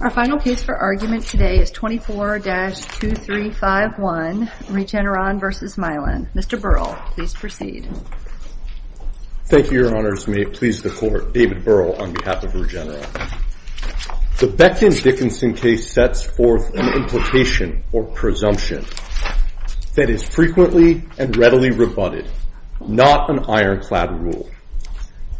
Our final case for argument today is 24-2351 Regeneron v. Mylan. Mr. Burrell, please proceed. Thank you, Your Honors. May it please the Court, David Burrell on behalf of Regeneron. The Beckton-Dickinson case sets forth an implication or presumption that is frequently and readily rebutted, not an ironclad rule.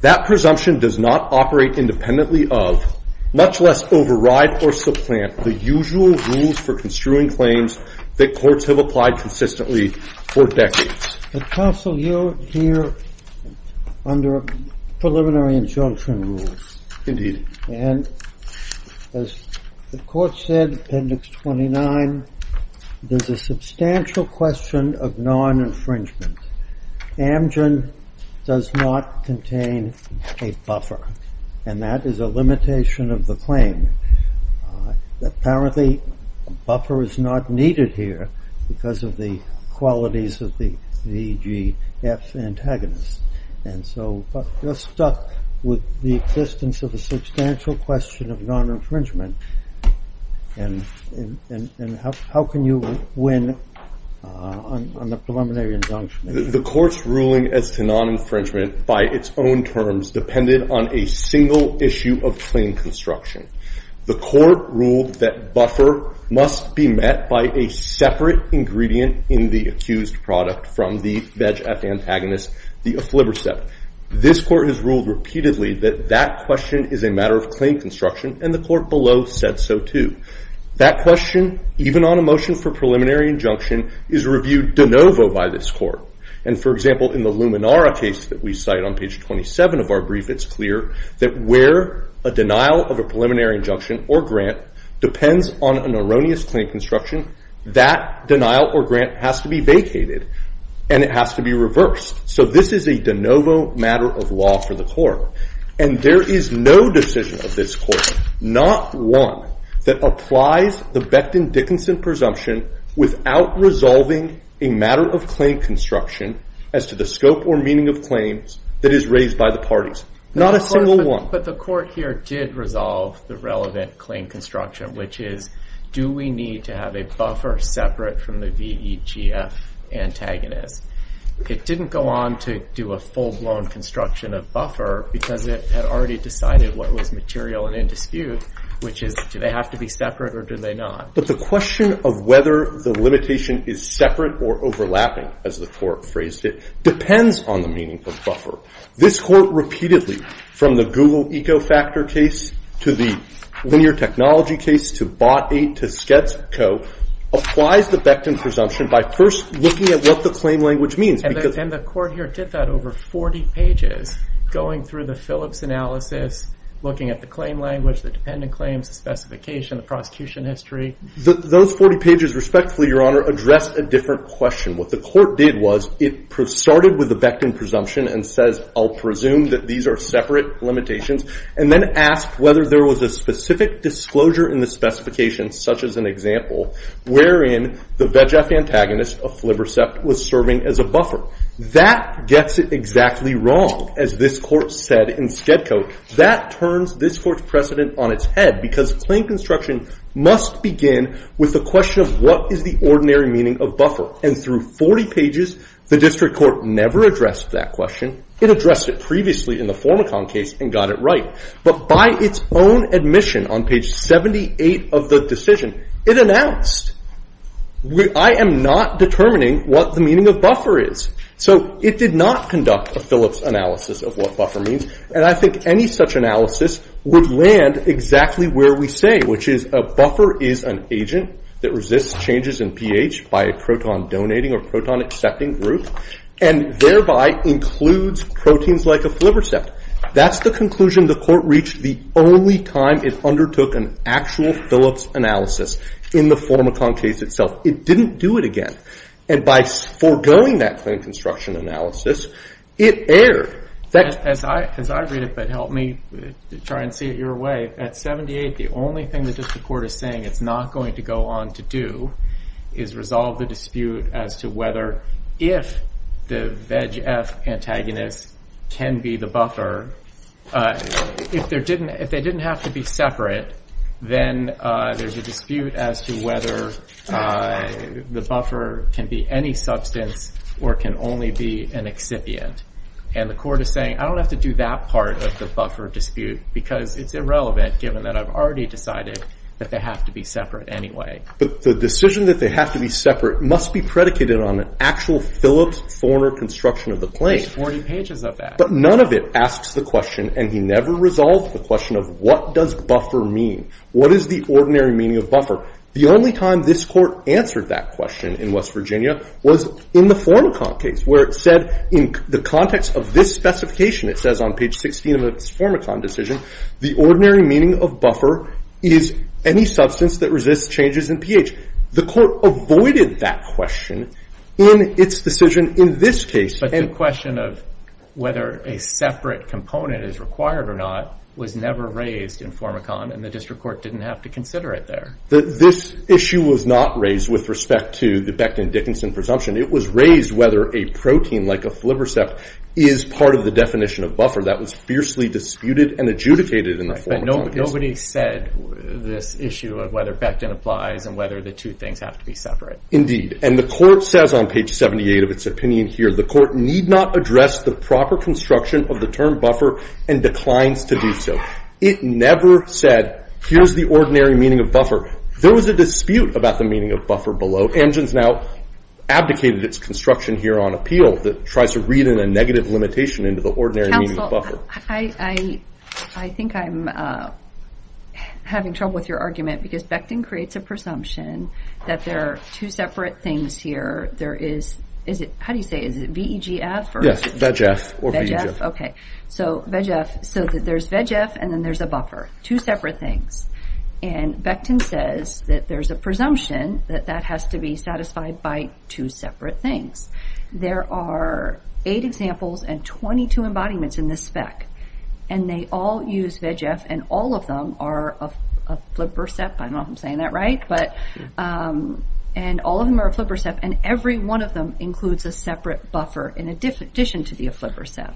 That presumption does not operate independently of, much less override or supplant the usual rules for construing claims that courts have applied consistently for decades. But counsel, you're here under preliminary injunction rules. And as the Court said, Appendix 29, there's a substantial question of non-infringement. Amgen does not contain a buffer. And that is a limitation of the claim. Apparently, a buffer is not needed here because of the qualities of the VGF antagonist. And so you're stuck with the existence of a substantial question of non-infringement. And how can you win on the preliminary injunction? The Court's ruling as to non-infringement, by its own terms, depended on a single issue of claim construction. The Court ruled that buffer must be met by a separate ingredient in the accused product from the VGF antagonist, the efflivercept. This Court has ruled repeatedly that that question is a matter of claim construction. And the Court below said so, too. That question, even on a motion for preliminary injunction, is reviewed de novo by this Court. And for example, in the Luminara case that we cite on page 27 of our brief, it's clear that where a denial of a preliminary injunction or grant depends on an erroneous claim construction, that denial or grant has to be vacated. And it has to be reversed. So this is a de novo matter of law for the Court. And there is no decision of this Court, not one that applies the Becton-Dickinson presumption without resolving a matter of claim construction as to the scope or meaning of claims that is raised by the parties. Not a single one. But the Court here did resolve the relevant claim construction, which is, do we need to have a buffer separate from the VEGF antagonist? It didn't go on to do a full-blown construction of buffer, because it had already decided what was material and in dispute, which is, do they have to be separate or do they not? But the question of whether the limitation is separate or overlapping, as the Court phrased it, depends on the meaning of buffer. This Court repeatedly, from the Google Ecofactor case to the linear technology case to Bot 8 to Sketsco, applies the Becton presumption by first looking at what the claim language means. And the Court here did that over 40 pages, going through the Phillips analysis, looking at the claim language, the dependent claims, the specification, the prosecution history. Those 40 pages, respectfully, Your Honor, addressed a different question. What the Court did was, it started with the Becton presumption and says, I'll presume that these are separate limitations, and then asked whether there was a specific disclosure in the specification, such as an example, wherein the VEGF antagonist of Flibercept was serving as a buffer. That gets it exactly wrong, as this Court said in Sketsco. That turns this Court's precedent on its head, because claim construction must begin with the question of what is the ordinary meaning of buffer. And through 40 pages, the District Court never addressed that question. It addressed it previously in the Formicon case and got it right. But by its own admission, on page 78 of the decision, it announced, I am not determining what the meaning of buffer is. So it did not conduct a Phillips analysis of what buffer means, and I think any such analysis would land exactly where we say, which is a buffer is an agent that resists changes in pH by a proton donating or proton accepting group, and thereby includes proteins like a Flibercept. That's the conclusion the Court reached the only time it undertook an actual Phillips analysis in the Formicon case itself. It didn't do it again. And by foregoing that claim construction analysis, it erred. As I read it, but help me try and see it your way, at 78, the only thing that the Court is saying it's not going to go on to do is resolve the dispute as to whether if the VEGF antagonist can be the buffer, if they didn't have to be separate, then there's a dispute as to whether the buffer can be any substance or can only be an excipient. And the Court is saying, I don't have to do that part of the buffer dispute because it's irrelevant, given that I've already decided that they have to be separate anyway. But the decision that they have to be separate must be predicated on an actual Phillips-Forner construction of the plane. There's 40 pages of that. But none of it asks the question, and he never resolved the question of, what does buffer mean? What is the ordinary meaning of buffer? The only time this Court answered that question in West Virginia was in the Formicon case, where it said, in the context of this specification, it says on page 16 of its Formicon decision, the ordinary meaning of buffer is any substance that resists changes in pH. The Court avoided that question in its decision in this case. But the question of whether a separate component is required or not was never raised in Formicon, and the District Court didn't have to consider it there. This issue was not raised with respect to the Beckton-Dickinson presumption. It was raised whether a protein, like a flibrosept, is part of the definition of buffer. That was fiercely disputed and adjudicated in the Formicon case. But nobody said this issue of whether Beckton applies and whether the two things have to be separate. Indeed. And the Court says on page 78 of its opinion here, the Court need not address the proper construction of the term buffer and declines to do so. It never said, here's the ordinary meaning of buffer. There was a dispute about the meaning of buffer below. Amgen's now abdicated its construction here on appeal that tries to read in a negative limitation into the ordinary meaning of buffer. I think I'm having trouble with your argument because Beckton creates a presumption that there are two separate things here. There is, how do you say, is it VEGF? Yes, VEGF or VEGF. OK. So there's VEGF, and then there's a buffer, two separate things. And Beckton says that there's a presumption that that has to be satisfied by two separate things. There are eight examples and 22 embodiments in this spec. And they all use VEGF, and all of them are a flipper CEP. I don't know if I'm saying that right. And all of them are a flipper CEP, and every one of them includes a separate buffer in addition to the flipper CEP.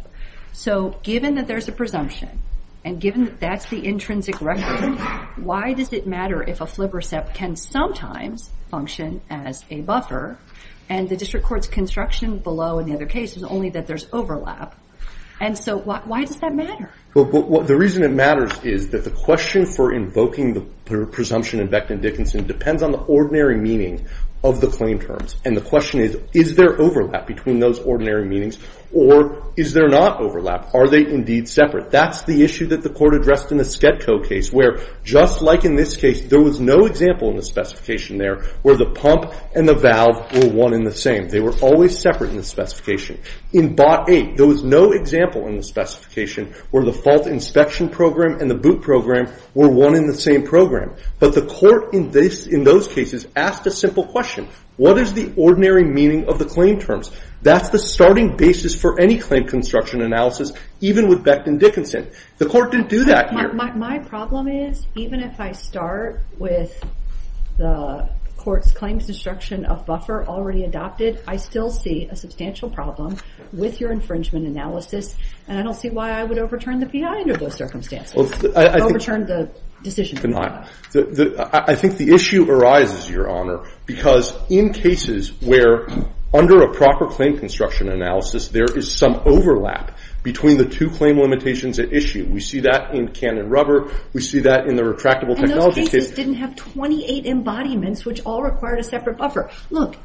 So given that there's a presumption, and given that that's the intrinsic record, why does it matter if a flipper CEP can sometimes function as a buffer, and the district court's construction below in the other case is only that there's overlap? And so why does that matter? The reason it matters is that the question for invoking the presumption in Beckton-Dickinson depends on the ordinary meaning of the claim terms. And the question is, is there overlap between those ordinary meanings? Or is there not overlap? Are they indeed separate? That's the issue that the court addressed in the Skedco case, where, just like in this case, there was no example in the specification there where the pump and the valve were one in the same. They were always separate in the specification. In BOT 8, there was no example in the specification where the fault inspection program and the boot program were one in the same program. But the court in those cases asked a simple question. What is the ordinary meaning of the claim terms? That's the starting basis for any claim construction analysis, even with Beckton-Dickinson. The court didn't do that here. My problem is, even if I start with the court's claims destruction of buffer already adopted, I still see a substantial problem with your infringement analysis. And I don't see why I would overturn the PI under those circumstances, overturn the decision to do that. I think the issue arises, Your Honor, because in cases where, under a proper claim construction analysis, there is some overlap between the two claim limitations at issue. We see that in Canon rubber. We see that in the retractable technology case. And those cases didn't have 28 embodiments, which all required a separate buffer. Look,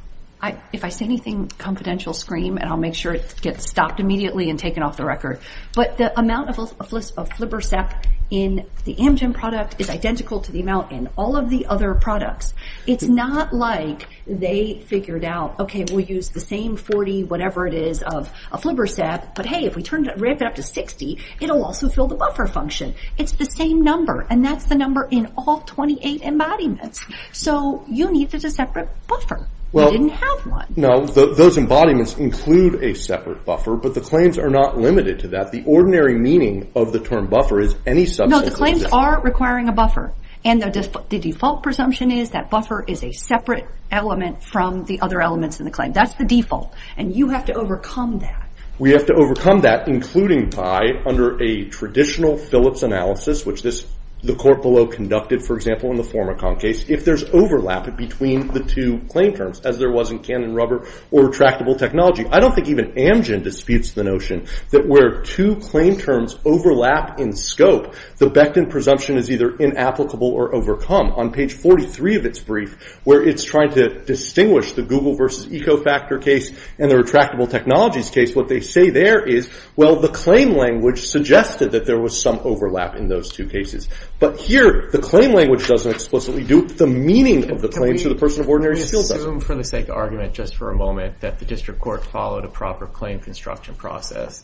if I say anything, confidential scream, and I'll make sure it gets stopped immediately and taken off the record. But the amount of flibbersap in the Amgen product is identical to the amount in all of the other products. It's not like they figured out, OK, we'll use the same 40 whatever it is of a flibbersap. But hey, if we ramp it up to 60, it'll also fill the buffer function. It's the same number. And that's the number in all 28 embodiments. So you needed a separate buffer. You didn't have one. No, those embodiments include a separate buffer. But the claims are not limited to that. The ordinary meaning of the term buffer is any substance No, the claims are requiring a buffer. And the default presumption is that buffer is a separate element from the other elements in the claim. That's the default. And you have to overcome that. We have to overcome that, including by, under a traditional Phillips analysis, which the court below conducted, for example, in the Formicon case, if there's overlap between the two claim terms, as there was in Canon Rubber or Retractable Technology. I don't think even Amgen disputes the notion that where two claim terms overlap in scope, the Becton presumption is either inapplicable or overcome. On page 43 of its brief, where it's trying to distinguish the Google versus Ecofactor case and the Retractable Technologies case, what they say there is, well, the claim language suggested that there was some overlap in those two cases. But here, the claim language doesn't explicitly do the meaning of the claims to the person of ordinary skill does it. Can we assume, for the sake of argument, just for a moment, that the district court followed a proper claim construction process?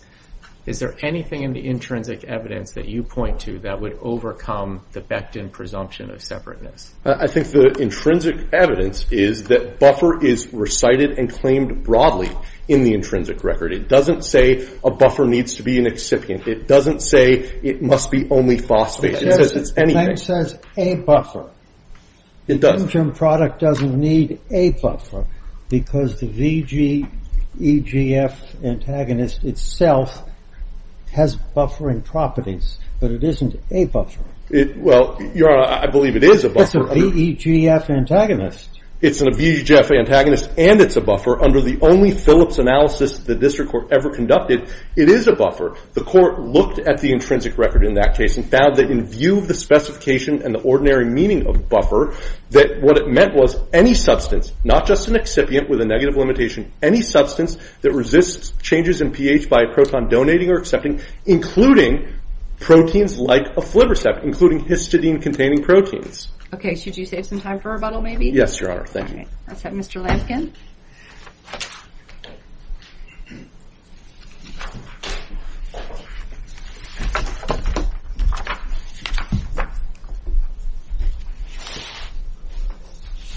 Is there anything in the intrinsic evidence that you point to that would overcome the Becton presumption of separateness? I think the intrinsic evidence is that buffer is recited and claimed broadly in the intrinsic record. It doesn't say a buffer needs to be an excipient. It doesn't say it must be only phosphate. It says it's anything. It says a buffer. It doesn't. The Amgen product doesn't need a buffer because the VEGF antagonist itself has buffering properties. But it isn't a buffer. Well, Your Honor, I believe it is a buffer. But it's a VEGF antagonist. It's a VEGF antagonist, and it's a buffer under the only Phillips analysis the district court ever conducted. It is a buffer. The court looked at the intrinsic record in that case and found that, in view of the specification and the ordinary meaning of buffer, that what it meant was any substance, not just an excipient with a negative limitation, any substance that resists changes in pH by a proton donating or accepting, including proteins like a flip receptor, including histidine-containing proteins. OK, should you save some time for rebuttal, maybe? Yes, Your Honor. Thank you. All right, let's have Mr. Lampkin.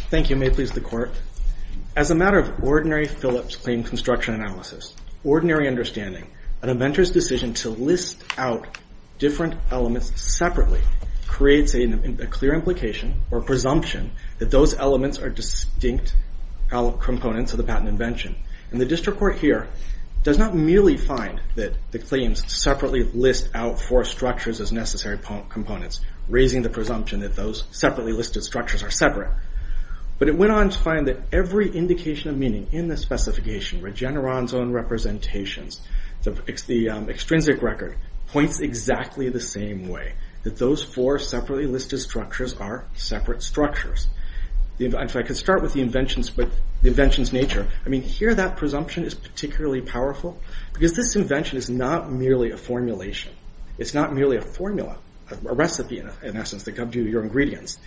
Thank you. May it please the court. As a matter of ordinary Phillips claim construction analysis, ordinary understanding, an inventor's decision to list out different elements separately creates a clear implication or presumption that those elements are distinct components of the patent invention. And the district court here does not merely find that the claims separately list out four structures as necessary components, raising the presumption that those separately listed structures are separate. But it went on to find that every indication of meaning in the specification, Regeneron's own representations, the extrinsic record, points exactly the same way, that those four separately listed structures are separate structures. If I could start with the invention's nature. I mean, here that presumption is particularly powerful because this invention is not merely a formulation. It's not merely a formula, a recipe, in essence, that comes due to your ingredients.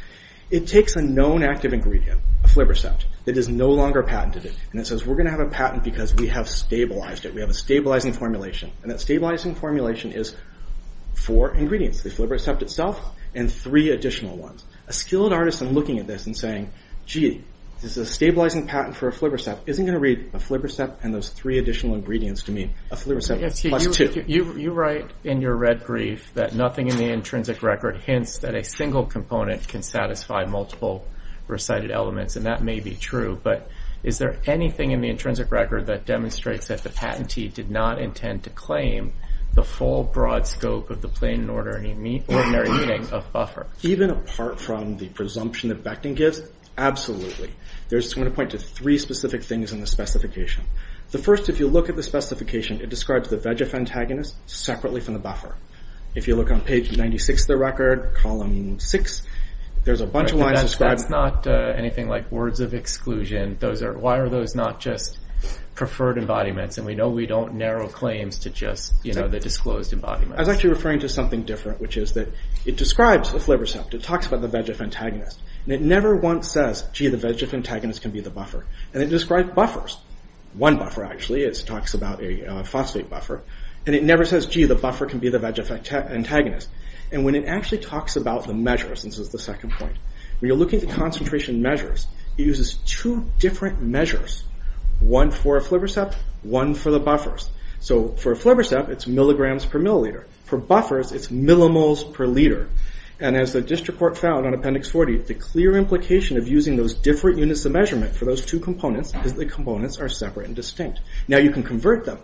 It takes a known active ingredient, a flip recept, that is no longer patented. And it says, we're going to have a patent because we have stabilized it. We have a stabilizing formulation. And that stabilizing formulation is four ingredients, the flip recept itself, and three additional ones. A skilled artist in looking at this and saying, gee, this is a stabilizing patent for a flip recept, isn't going to read a flip recept and those three additional ingredients to mean a flip recept plus two. You write in your red brief that nothing in the intrinsic record hints that a single component can satisfy multiple recited elements. And that may be true. But is there anything in the intrinsic record that demonstrates that the patentee did not intend to claim the full broad scope of the plain and order ordinary meaning of buffer? Even apart from the presumption that Becton gives, absolutely. There's, I'm going to point to three specific things in the specification. The first, if you look at the specification, it describes the VEGF antagonist separately from the buffer. If you look on page 96 of the record, column six, there's a bunch of lines described. That's not anything like words of exclusion. Why are those not just preferred embodiments? And we know we don't narrow claims to just, you know, the disclosed embodiments. I was actually referring to something different, which is that it describes a flibbersept. It talks about the VEGF antagonist. And it never once says, gee, the VEGF antagonist can be the buffer. And it described buffers. One buffer, actually. It talks about a phosphate buffer. And it never says, gee, the buffer can be the VEGF antagonist. And when it actually talks about the measures, and this is the second point, when you're looking at the concentration measures, it uses two different measures. One for a flibbersept, one for the buffers. So for a flibbersept, it's milligrams per milliliter. For buffers, it's millimoles per liter. And as the district court found on Appendix 40, the clear implication of using those different units of measurement for those two components is that the components are separate and distinct. Now you can convert them.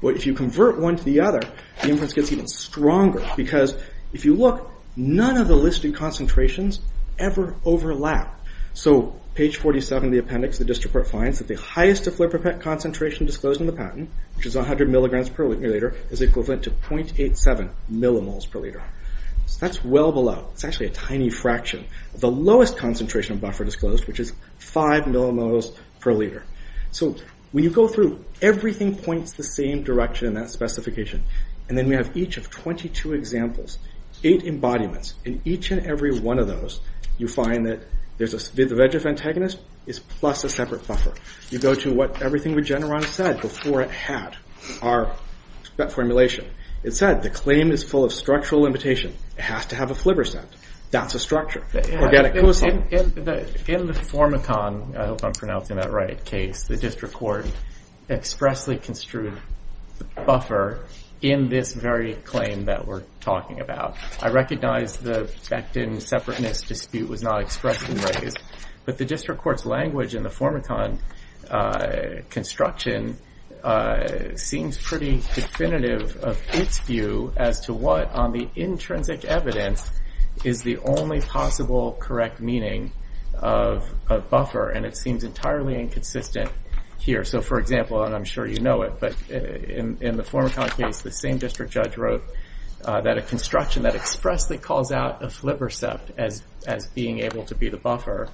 But if you convert one to the other, the inference gets even stronger. Because if you look, none of the listed concentrations ever overlap. So page 47 of the appendix, the district court finds that the highest flibbersept concentration disclosed in the patent, which is 100 milligrams per milliliter, is equivalent to 0.87 millimoles per liter. So that's well below. It's actually a tiny fraction. The lowest concentration buffer disclosed, which is five millimoles per liter. So when you go through, everything points the same direction in that specification. And then we have each of 22 examples, eight embodiments. In each and every one of those, you find that the VEGF antagonist is plus a separate buffer. You go to what everything Regeneron said before it had our formulation. It said the claim is full of structural limitation. It has to have a flibbersept. That's a structure. Organic compound. In the Formicon, I hope I'm pronouncing that right, case, the district court expressly construed the buffer in this very claim that we're talking about. I recognize the Becton separateness dispute was not expressly raised. But the district court's language in the Formicon construction seems pretty definitive of its view as to what on the intrinsic evidence is the only possible correct meaning of a buffer. And it seems entirely inconsistent here. So for example, and I'm sure you know it, but in the Formicon case, the same district judge wrote that a construction that expressly calls out a flibbersept as being able to be the buffer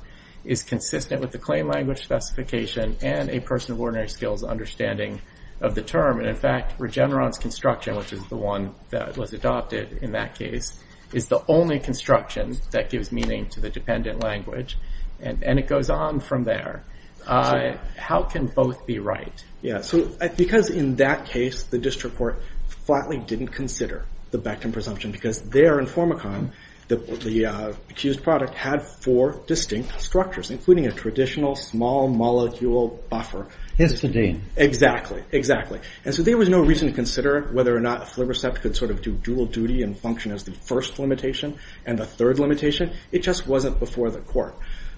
is consistent with the claim language specification and a person of ordinary skills understanding of the term. And in fact, Regeneron's construction, which is the one that was adopted in that case, is the only construction that gives meaning to the dependent language. And it goes on from there. How can both be right? Yeah, so because in that case, the district court flatly didn't consider the Becton presumption because there in Formicon, the accused product had four distinct structures, including a traditional small molecule buffer. Instantane. Exactly, exactly. And so there was no reason to consider whether or not a flibbersept could sort of do dual duty and function as the first limitation and the third limitation. It just wasn't before the court.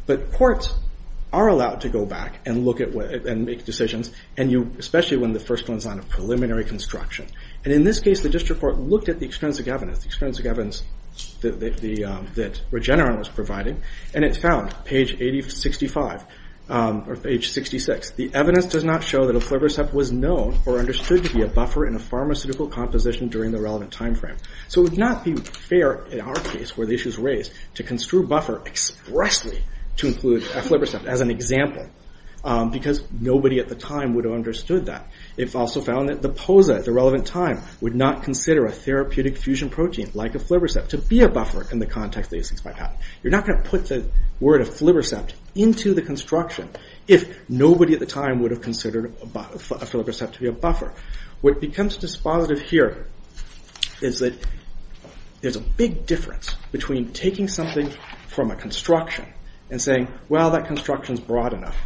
But courts are allowed to go back and make decisions, and especially when the first one's on a preliminary construction. And in this case, the district court looked at the extrinsic evidence. Extrinsic evidence that Regeneron was providing. And it found, page 8065, or page 66, the evidence does not show that a flibbersept was known or understood to be a buffer in a pharmaceutical composition during the relevant timeframe. So it would not be fair in our case, where the issue's raised, to construe buffer expressly to include a flibbersept as an example because nobody at the time would have understood that. It also found that the POSA at the relevant time would not consider a therapeutic fusion protein like a flibbersept to be a buffer in the context that 865 had. You're not going to put the word of flibbersept into the construction if nobody at the time would have considered a flibbersept to be a buffer. What becomes dispositive here is that there's a big difference between taking something from a construction and saying, well, that construction's broad enough.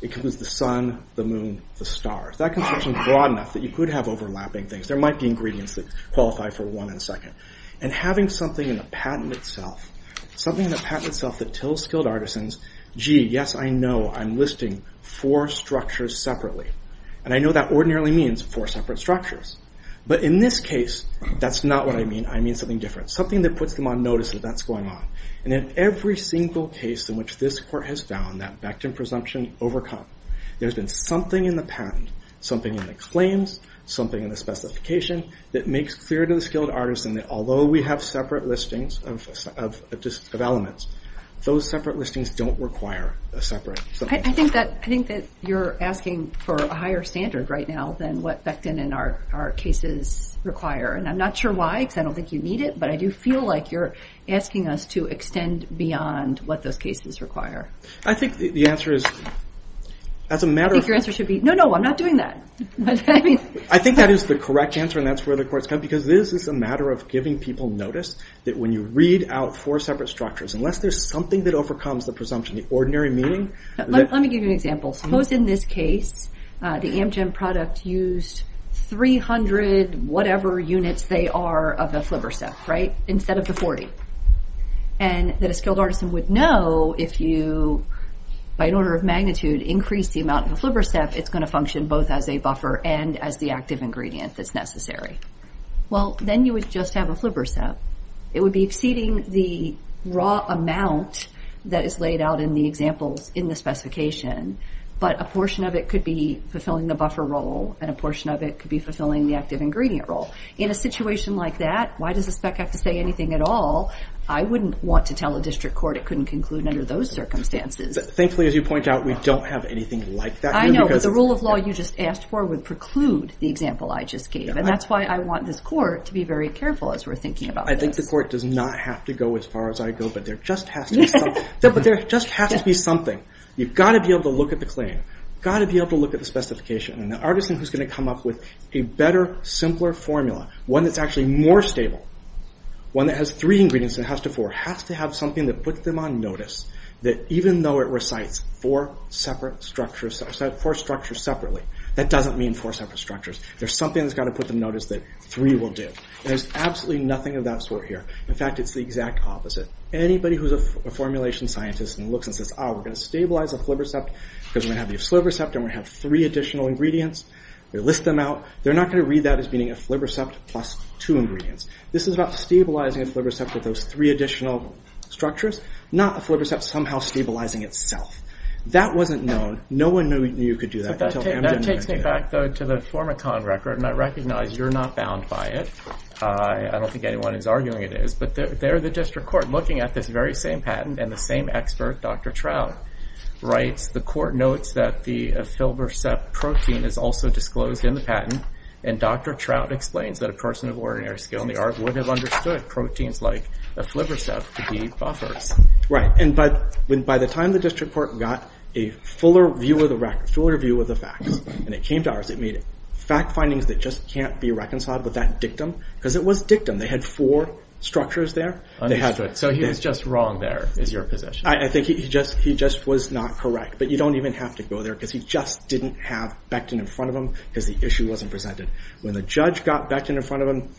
It includes the sun, the moon, the stars. That construction's broad enough that you could have overlapping things. There might be ingredients that qualify for one in a second. And having something in the patent itself, something in the patent itself that tells skilled artisans, gee, yes, I know. I'm listing four structures separately. And I know that ordinarily means four separate structures. But in this case, that's not what I mean. I mean something different, something that puts them on notice that that's going on. And in every single case in which this court has found that Becton presumption overcome, there's been something in the patent, something in the claims, something in the specification that makes clear to the skilled artisan that although we have separate listings of elements, those separate listings don't require a separate. I think that you're asking for a higher standard right now than what Becton and our cases require. And I'm not sure why, because I don't think you need it. But I do feel like you're asking us to extend beyond what those cases require. I think the answer is, as a matter of fact. I think your answer should be, no, no. I'm not doing that. I think that is the correct answer. And that's where the courts come. Because this is a matter of giving people notice that when you read out four separate structures, unless there's something that overcomes the presumption, the ordinary meaning. Let me give you an example. Suppose in this case, the Amgen product used 300 whatever units they are of the FlivrSEF, right? Instead of the 40. And that a skilled artisan would know if you, by an order of magnitude, increase the amount of the FlivrSEF, it's going to function both as a buffer and as the active ingredient that's necessary. Well, then you would just have a FlivrSEF. It would be exceeding the raw amount that is laid out in the examples in the specification. But a portion of it could be fulfilling the buffer role. And a portion of it could be fulfilling the active ingredient role. In a situation like that, why does a spec have to say anything at all? I wouldn't want to tell a district court it couldn't conclude under those circumstances. Thankfully, as you point out, we don't have anything like that. I know, but the rule of law you just asked for would preclude the example I just gave. And that's why I want this court to be very careful as we're thinking about this. I think the court does not have to go as far as I go. But there just has to be something. You've got to be able to look at the claim. Got to be able to look at the specification. And the artisan who's going to come up with a better, simpler formula, one that's actually more stable, one that has three ingredients than it has to four, has to have something that puts them on notice that even though it recites four separate structures, four structures separately, that doesn't mean four separate structures. There's something that's got to put them notice that three will do. There's absolutely nothing of that sort here. In fact, it's the exact opposite. Anybody who's a formulation scientist and looks and says, oh, we're going to stabilize a flibrosept because we're going to have the afslirosept and we're going to have three additional ingredients, we list them out, they're not going to read that as being a flibrosept plus two ingredients. This is about stabilizing a flibrosept with those three additional structures, not a flibrosept somehow stabilizing itself. That wasn't known. No one knew you could do that until Amgen did it. That takes me back, though, to the Formicon record, and I recognize you're not bound by it. I don't think anyone is arguing it is, but they're the district court looking at this very same patent and the same expert, Dr. Trout, writes, the court notes that the aflirosept protein is also disclosed in the patent, and Dr. Trout explains that a person of ordinary skill in the art would have understood proteins like aflirosept to be buffers. Right, and by the time the district court got a fuller view of the facts, and it came to ours, it made fact findings that just can't be reconciled with that dictum, because it was dictum. They had four structures there. Understood, so he was just wrong there, is your position. I think he just was not correct, but you don't even have to go there, because he just didn't have Becton in front of him, because the issue wasn't presented. When the judge got Becton in front of him,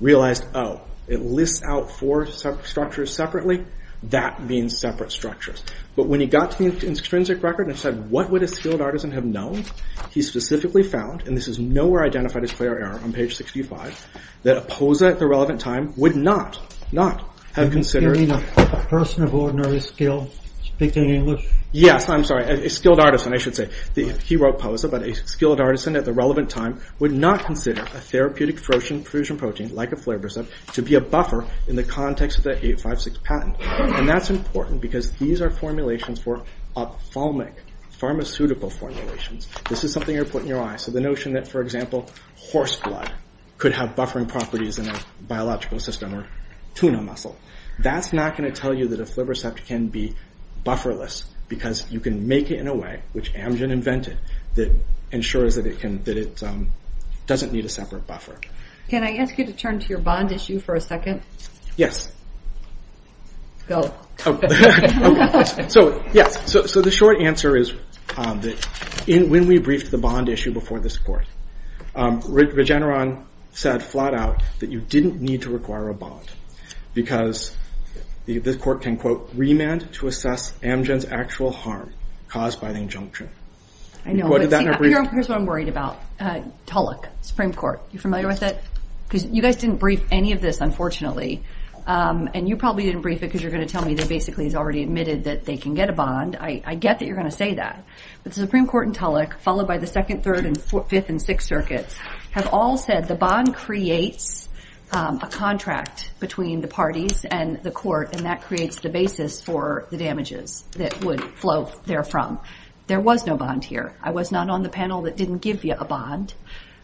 realized, oh, it lists out four structures separately, that means separate structures. But when he got to the extrinsic record and said what would a skilled artisan have known, he specifically found, and this is nowhere identified as clear error on page 65, that a POSA at the relevant time would not, not have considered. You mean a person of ordinary skill speaking English? Yes, I'm sorry, a skilled artisan, I should say. He wrote POSA, but a skilled artisan at the relevant time would not consider a therapeutic fusion protein like aflirosept to be a buffer in the context of the 856 patent, and that's important, because these are formulations for ophthalmic, pharmaceutical formulations. This is something you're putting your eyes, so the notion that, for example, horse blood could have buffering properties in a biological system, or tuna muscle. That's not gonna tell you that aflirosept can be bufferless, because you can make it in a way, which Amgen invented, that ensures that it can, that it doesn't need a separate buffer. Can I ask you to turn to your bond issue for a second? Yes. Go. Oh, okay. So, yes, so the short answer is that, when we briefed the bond issue before this court, Regeneron said flat out that you didn't need to require a bond, because the court can, quote, "'remand to assess Amgen's actual harm "'caused by the injunction.'" I know, but see, here's what I'm worried about. Tulloch, Supreme Court, you familiar with it? Because you guys didn't brief any of this, unfortunately, and you probably didn't brief it, because you're gonna tell me that, basically, it's already admitted that they can get a bond. I get that you're gonna say that, but the Supreme Court and Tulloch, followed by the Second, Third, and Fifth, and Sixth Circuits have all said the bond creates a contract between the parties and the court, and that creates the basis for the damages that would flow therefrom. There was no bond here. I was not on the panel that didn't give you a bond,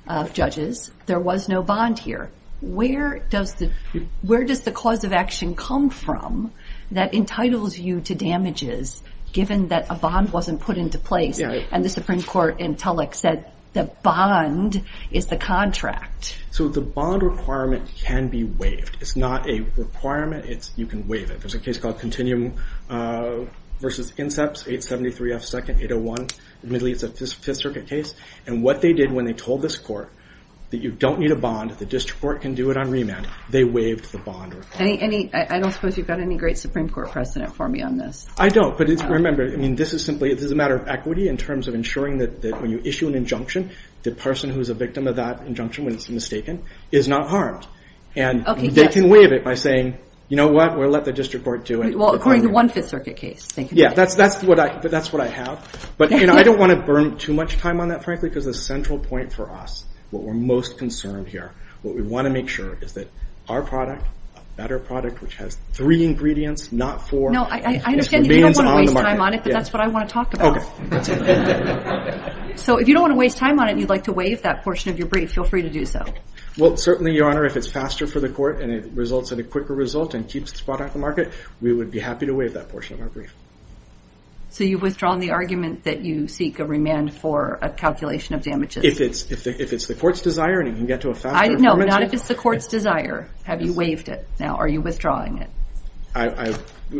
of judges, there was no bond here. Where does the cause of action come from that entitles you to damages, given that a bond wasn't put into place, and the Supreme Court and Tulloch said the bond is the contract? So the bond requirement can be waived. It's not a requirement, you can waive it. There's a case called Continuum versus Inceps, 873 F Second, 801, admittedly, it's a Fifth Circuit case, and what they did when they told this court that you don't need a bond, the District Court can do it on remand, they waived the bond requirement. I don't suppose you've got any great Supreme Court precedent for me on this. I don't, but remember, this is a matter of equity in terms of ensuring that when you issue an injunction, the person who's a victim of that injunction, when it's mistaken, is not harmed. And they can waive it by saying, you know what, we'll let the District Court do it. Well, according to one Fifth Circuit case, thank you. Yeah, that's what I have, but I don't want to burn too much time on that, frankly, because the central point for us, what we're most concerned here, what we want to make sure is that our product, a better product, which has three ingredients, not four. No, I understand you don't want to waste time on it, but that's what I want to talk about. Okay, that's it. So if you don't want to waste time on it, and you'd like to waive that portion of your brief, feel free to do so. Well, certainly, Your Honor, if it's faster for the court, and it results in a quicker result, and keeps this product on the market, we would be happy to waive that portion of our brief. So you've withdrawn the argument that you seek a remand for a calculation of damages? If it's the court's desire, and you can get to a faster agreement. No, not if it's the court's desire. Have you waived it now? Are you withdrawing it?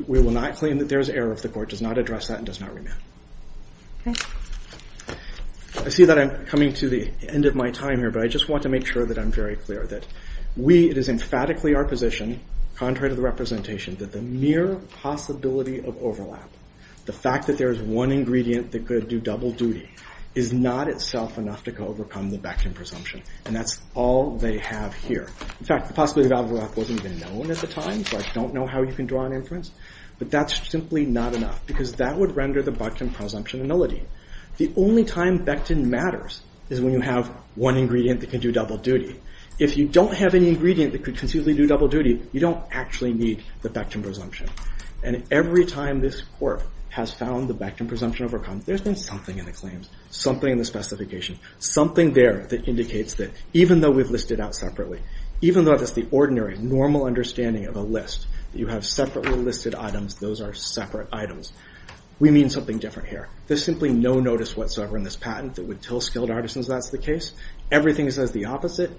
We will not claim that there is error if the court does not address that and does not remand. Okay. I see that I'm coming to the end of my time here, but I just want to make sure that I'm very clear, that we, it is emphatically our position, contrary to the representation, that the mere possibility of overlap, the fact that there is one ingredient that could do double duty, is not itself enough to overcome the Becton presumption, and that's all they have here. In fact, the possibility of overlap wasn't even known at the time, so I don't know how you can draw an inference, but that's simply not enough, because that would render the Becton presumption a nullity. The only time Becton matters is when you have one ingredient that can do double duty. If you don't have any ingredient that could conceivably do double duty, you don't actually need the Becton presumption. And every time this court has found the Becton presumption overcome, there's been something in the claims, something in the specification, something there that indicates that, even though we've listed out separately, even though that's the ordinary, normal understanding of a list, that you have separately listed items, those are separate items. We mean something different here. There's simply no notice whatsoever in this patent that would tell skilled artisans that's the case. Everything says the opposite,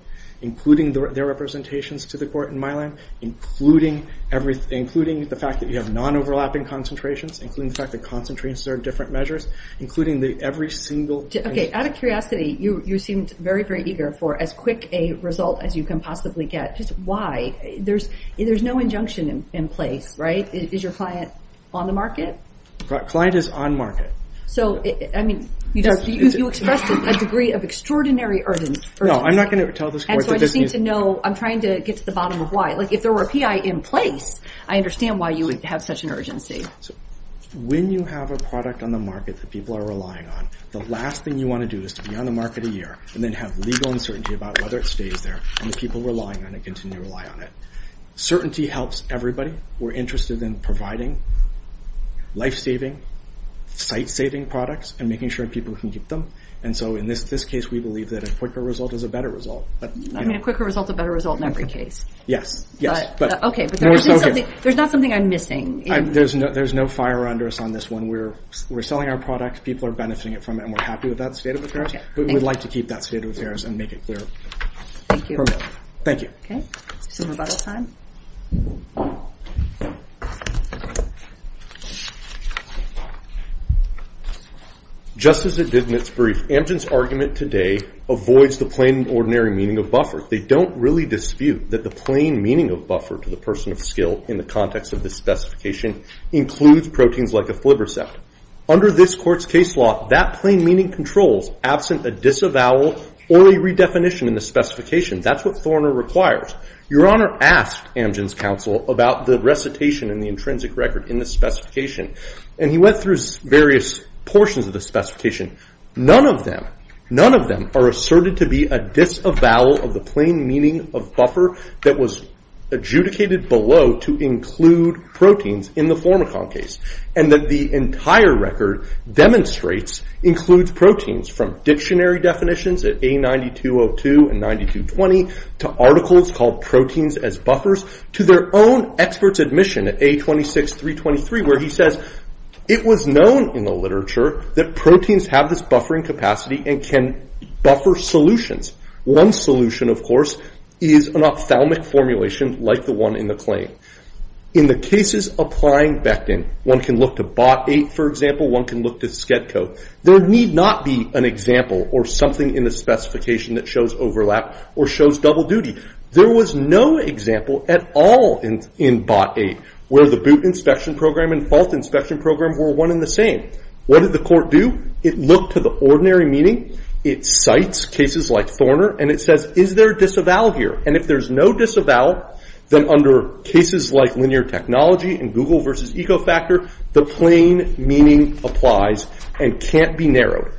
including their representations to the court in Milan, including the fact that you have non-overlapping concentrations, including the fact that concentrations are different measures, including every single thing. Okay, out of curiosity, you seemed very, very eager for as quick a result as you can possibly get. Just why? There's no injunction in place, right? Is your client on the market? Client is on market. So, I mean, you expressed a degree of extraordinary urgency. No, I'm not gonna tell this court that this is... And so I just need to know, I'm trying to get to the bottom of why. If there were a PI in place, I understand why you would have such an urgency. When you have a product on the market that people are relying on, the last thing you wanna do is to be on the market a year, and then have legal uncertainty about whether it stays there, and the people relying on it continue to rely on it. Certainty helps everybody. We're interested in providing life-saving, site-saving products, and making sure people can keep them. And so in this case, we believe that a quicker result is a better result. I mean, a quicker result's a better result in every case. Yes, yes, but... Okay, but there's not something I'm missing. There's no fire under us on this one. We're selling our product, people are benefiting from it, and we're happy with that state of affairs, but we'd like to keep that state of affairs and make it clear. Thank you. Thank you. Okay, some rebuttal time. Just as it did in its brief, Amgen's argument today avoids the plain, ordinary meaning of buffer. They don't really dispute that the plain meaning of buffer to the person of skill in the context of this specification includes proteins like a flibrosept. Under this court's case law, that plain meaning controls absent a disavowal or a redefinition in the specification. That's what Thorner requires. Your Honor asked Amgen's counsel about the recitation and the intrinsic record in this specification, and he went through various portions of the specification. None of them, none of them are asserted to be a disavowal of the plain meaning of buffer that was adjudicated below to include proteins in the Flormicon case, and that the entire record demonstrates includes proteins from dictionary definitions at A9202 and 9220 to articles called proteins as buffers to their own expert's admission at A26323, where he says it was known in the literature that proteins have this buffering capacity and can buffer solutions. One solution, of course, is an ophthalmic formulation like the one in the claim. In the cases applying Becton, one can look to BOT 8, for example, one can look to SCEDCO. There need not be an example or something in the specification that shows overlap or shows double duty. There was no example at all in BOT 8 where the boot inspection program and fault inspection program were one and the same. What did the court do? It looked to the ordinary meaning. It cites cases like Thorner, and it says, is there disavowal here? And if there's no disavowal, then under cases like linear technology and Google versus Ecofactor, the plain meaning applies and can't be narrowed.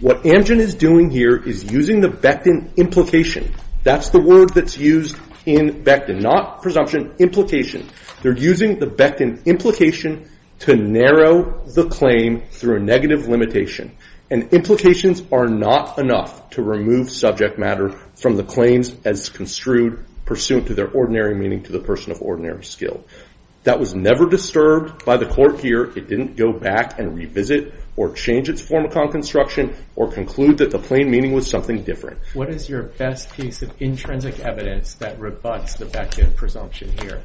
What Amgen is doing here is using the Becton implication. That's the word that's used in Becton, not presumption, implication. They're using the Becton implication to narrow the claim through a negative limitation. And implications are not enough to remove subject matter from the claims as construed pursuant to their ordinary meaning to the person of ordinary skill. That was never disturbed by the court here. It didn't go back and revisit or change its form of conconstruction or conclude that the plain meaning was something different. What is your best piece of intrinsic evidence that rebuts the Becton presumption here?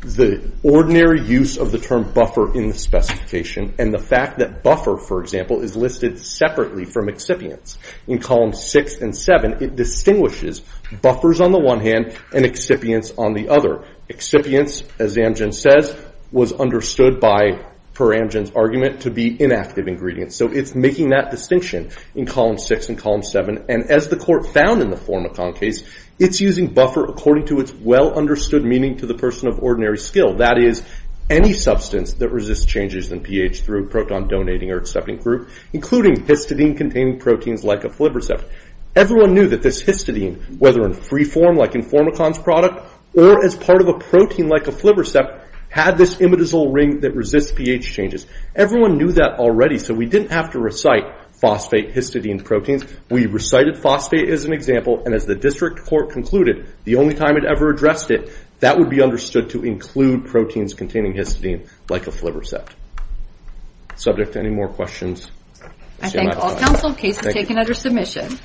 The ordinary use of the term buffer in the specification and the fact that buffer, for example, is listed separately from excipients. In columns six and seven, it distinguishes buffers on the one hand and excipients on the other. Excipients, as Amgen says, was understood by, per Amgen's argument, to be inactive ingredients. So it's making that distinction in column six and column seven. And as the court found in the form of concase, it's using buffer according to its well-understood meaning to the person of ordinary skill. That is, any substance that resists changes in pH through a proton-donating or accepting group, including histidine-containing proteins like Aflibrisept. Everyone knew that this histidine, whether in free form like in Formicon's product or as part of a protein like Aflibrisept, had this imidazole ring that resists pH changes. Everyone knew that already, so we didn't have to recite phosphate-histidine proteins. We recited phosphate as an example. And as the district court concluded, the only time it ever addressed it, that would be understood to include proteins containing histidine like Aflibrisept. Subject to any more questions? I thank all counsel. Case is taken under submission.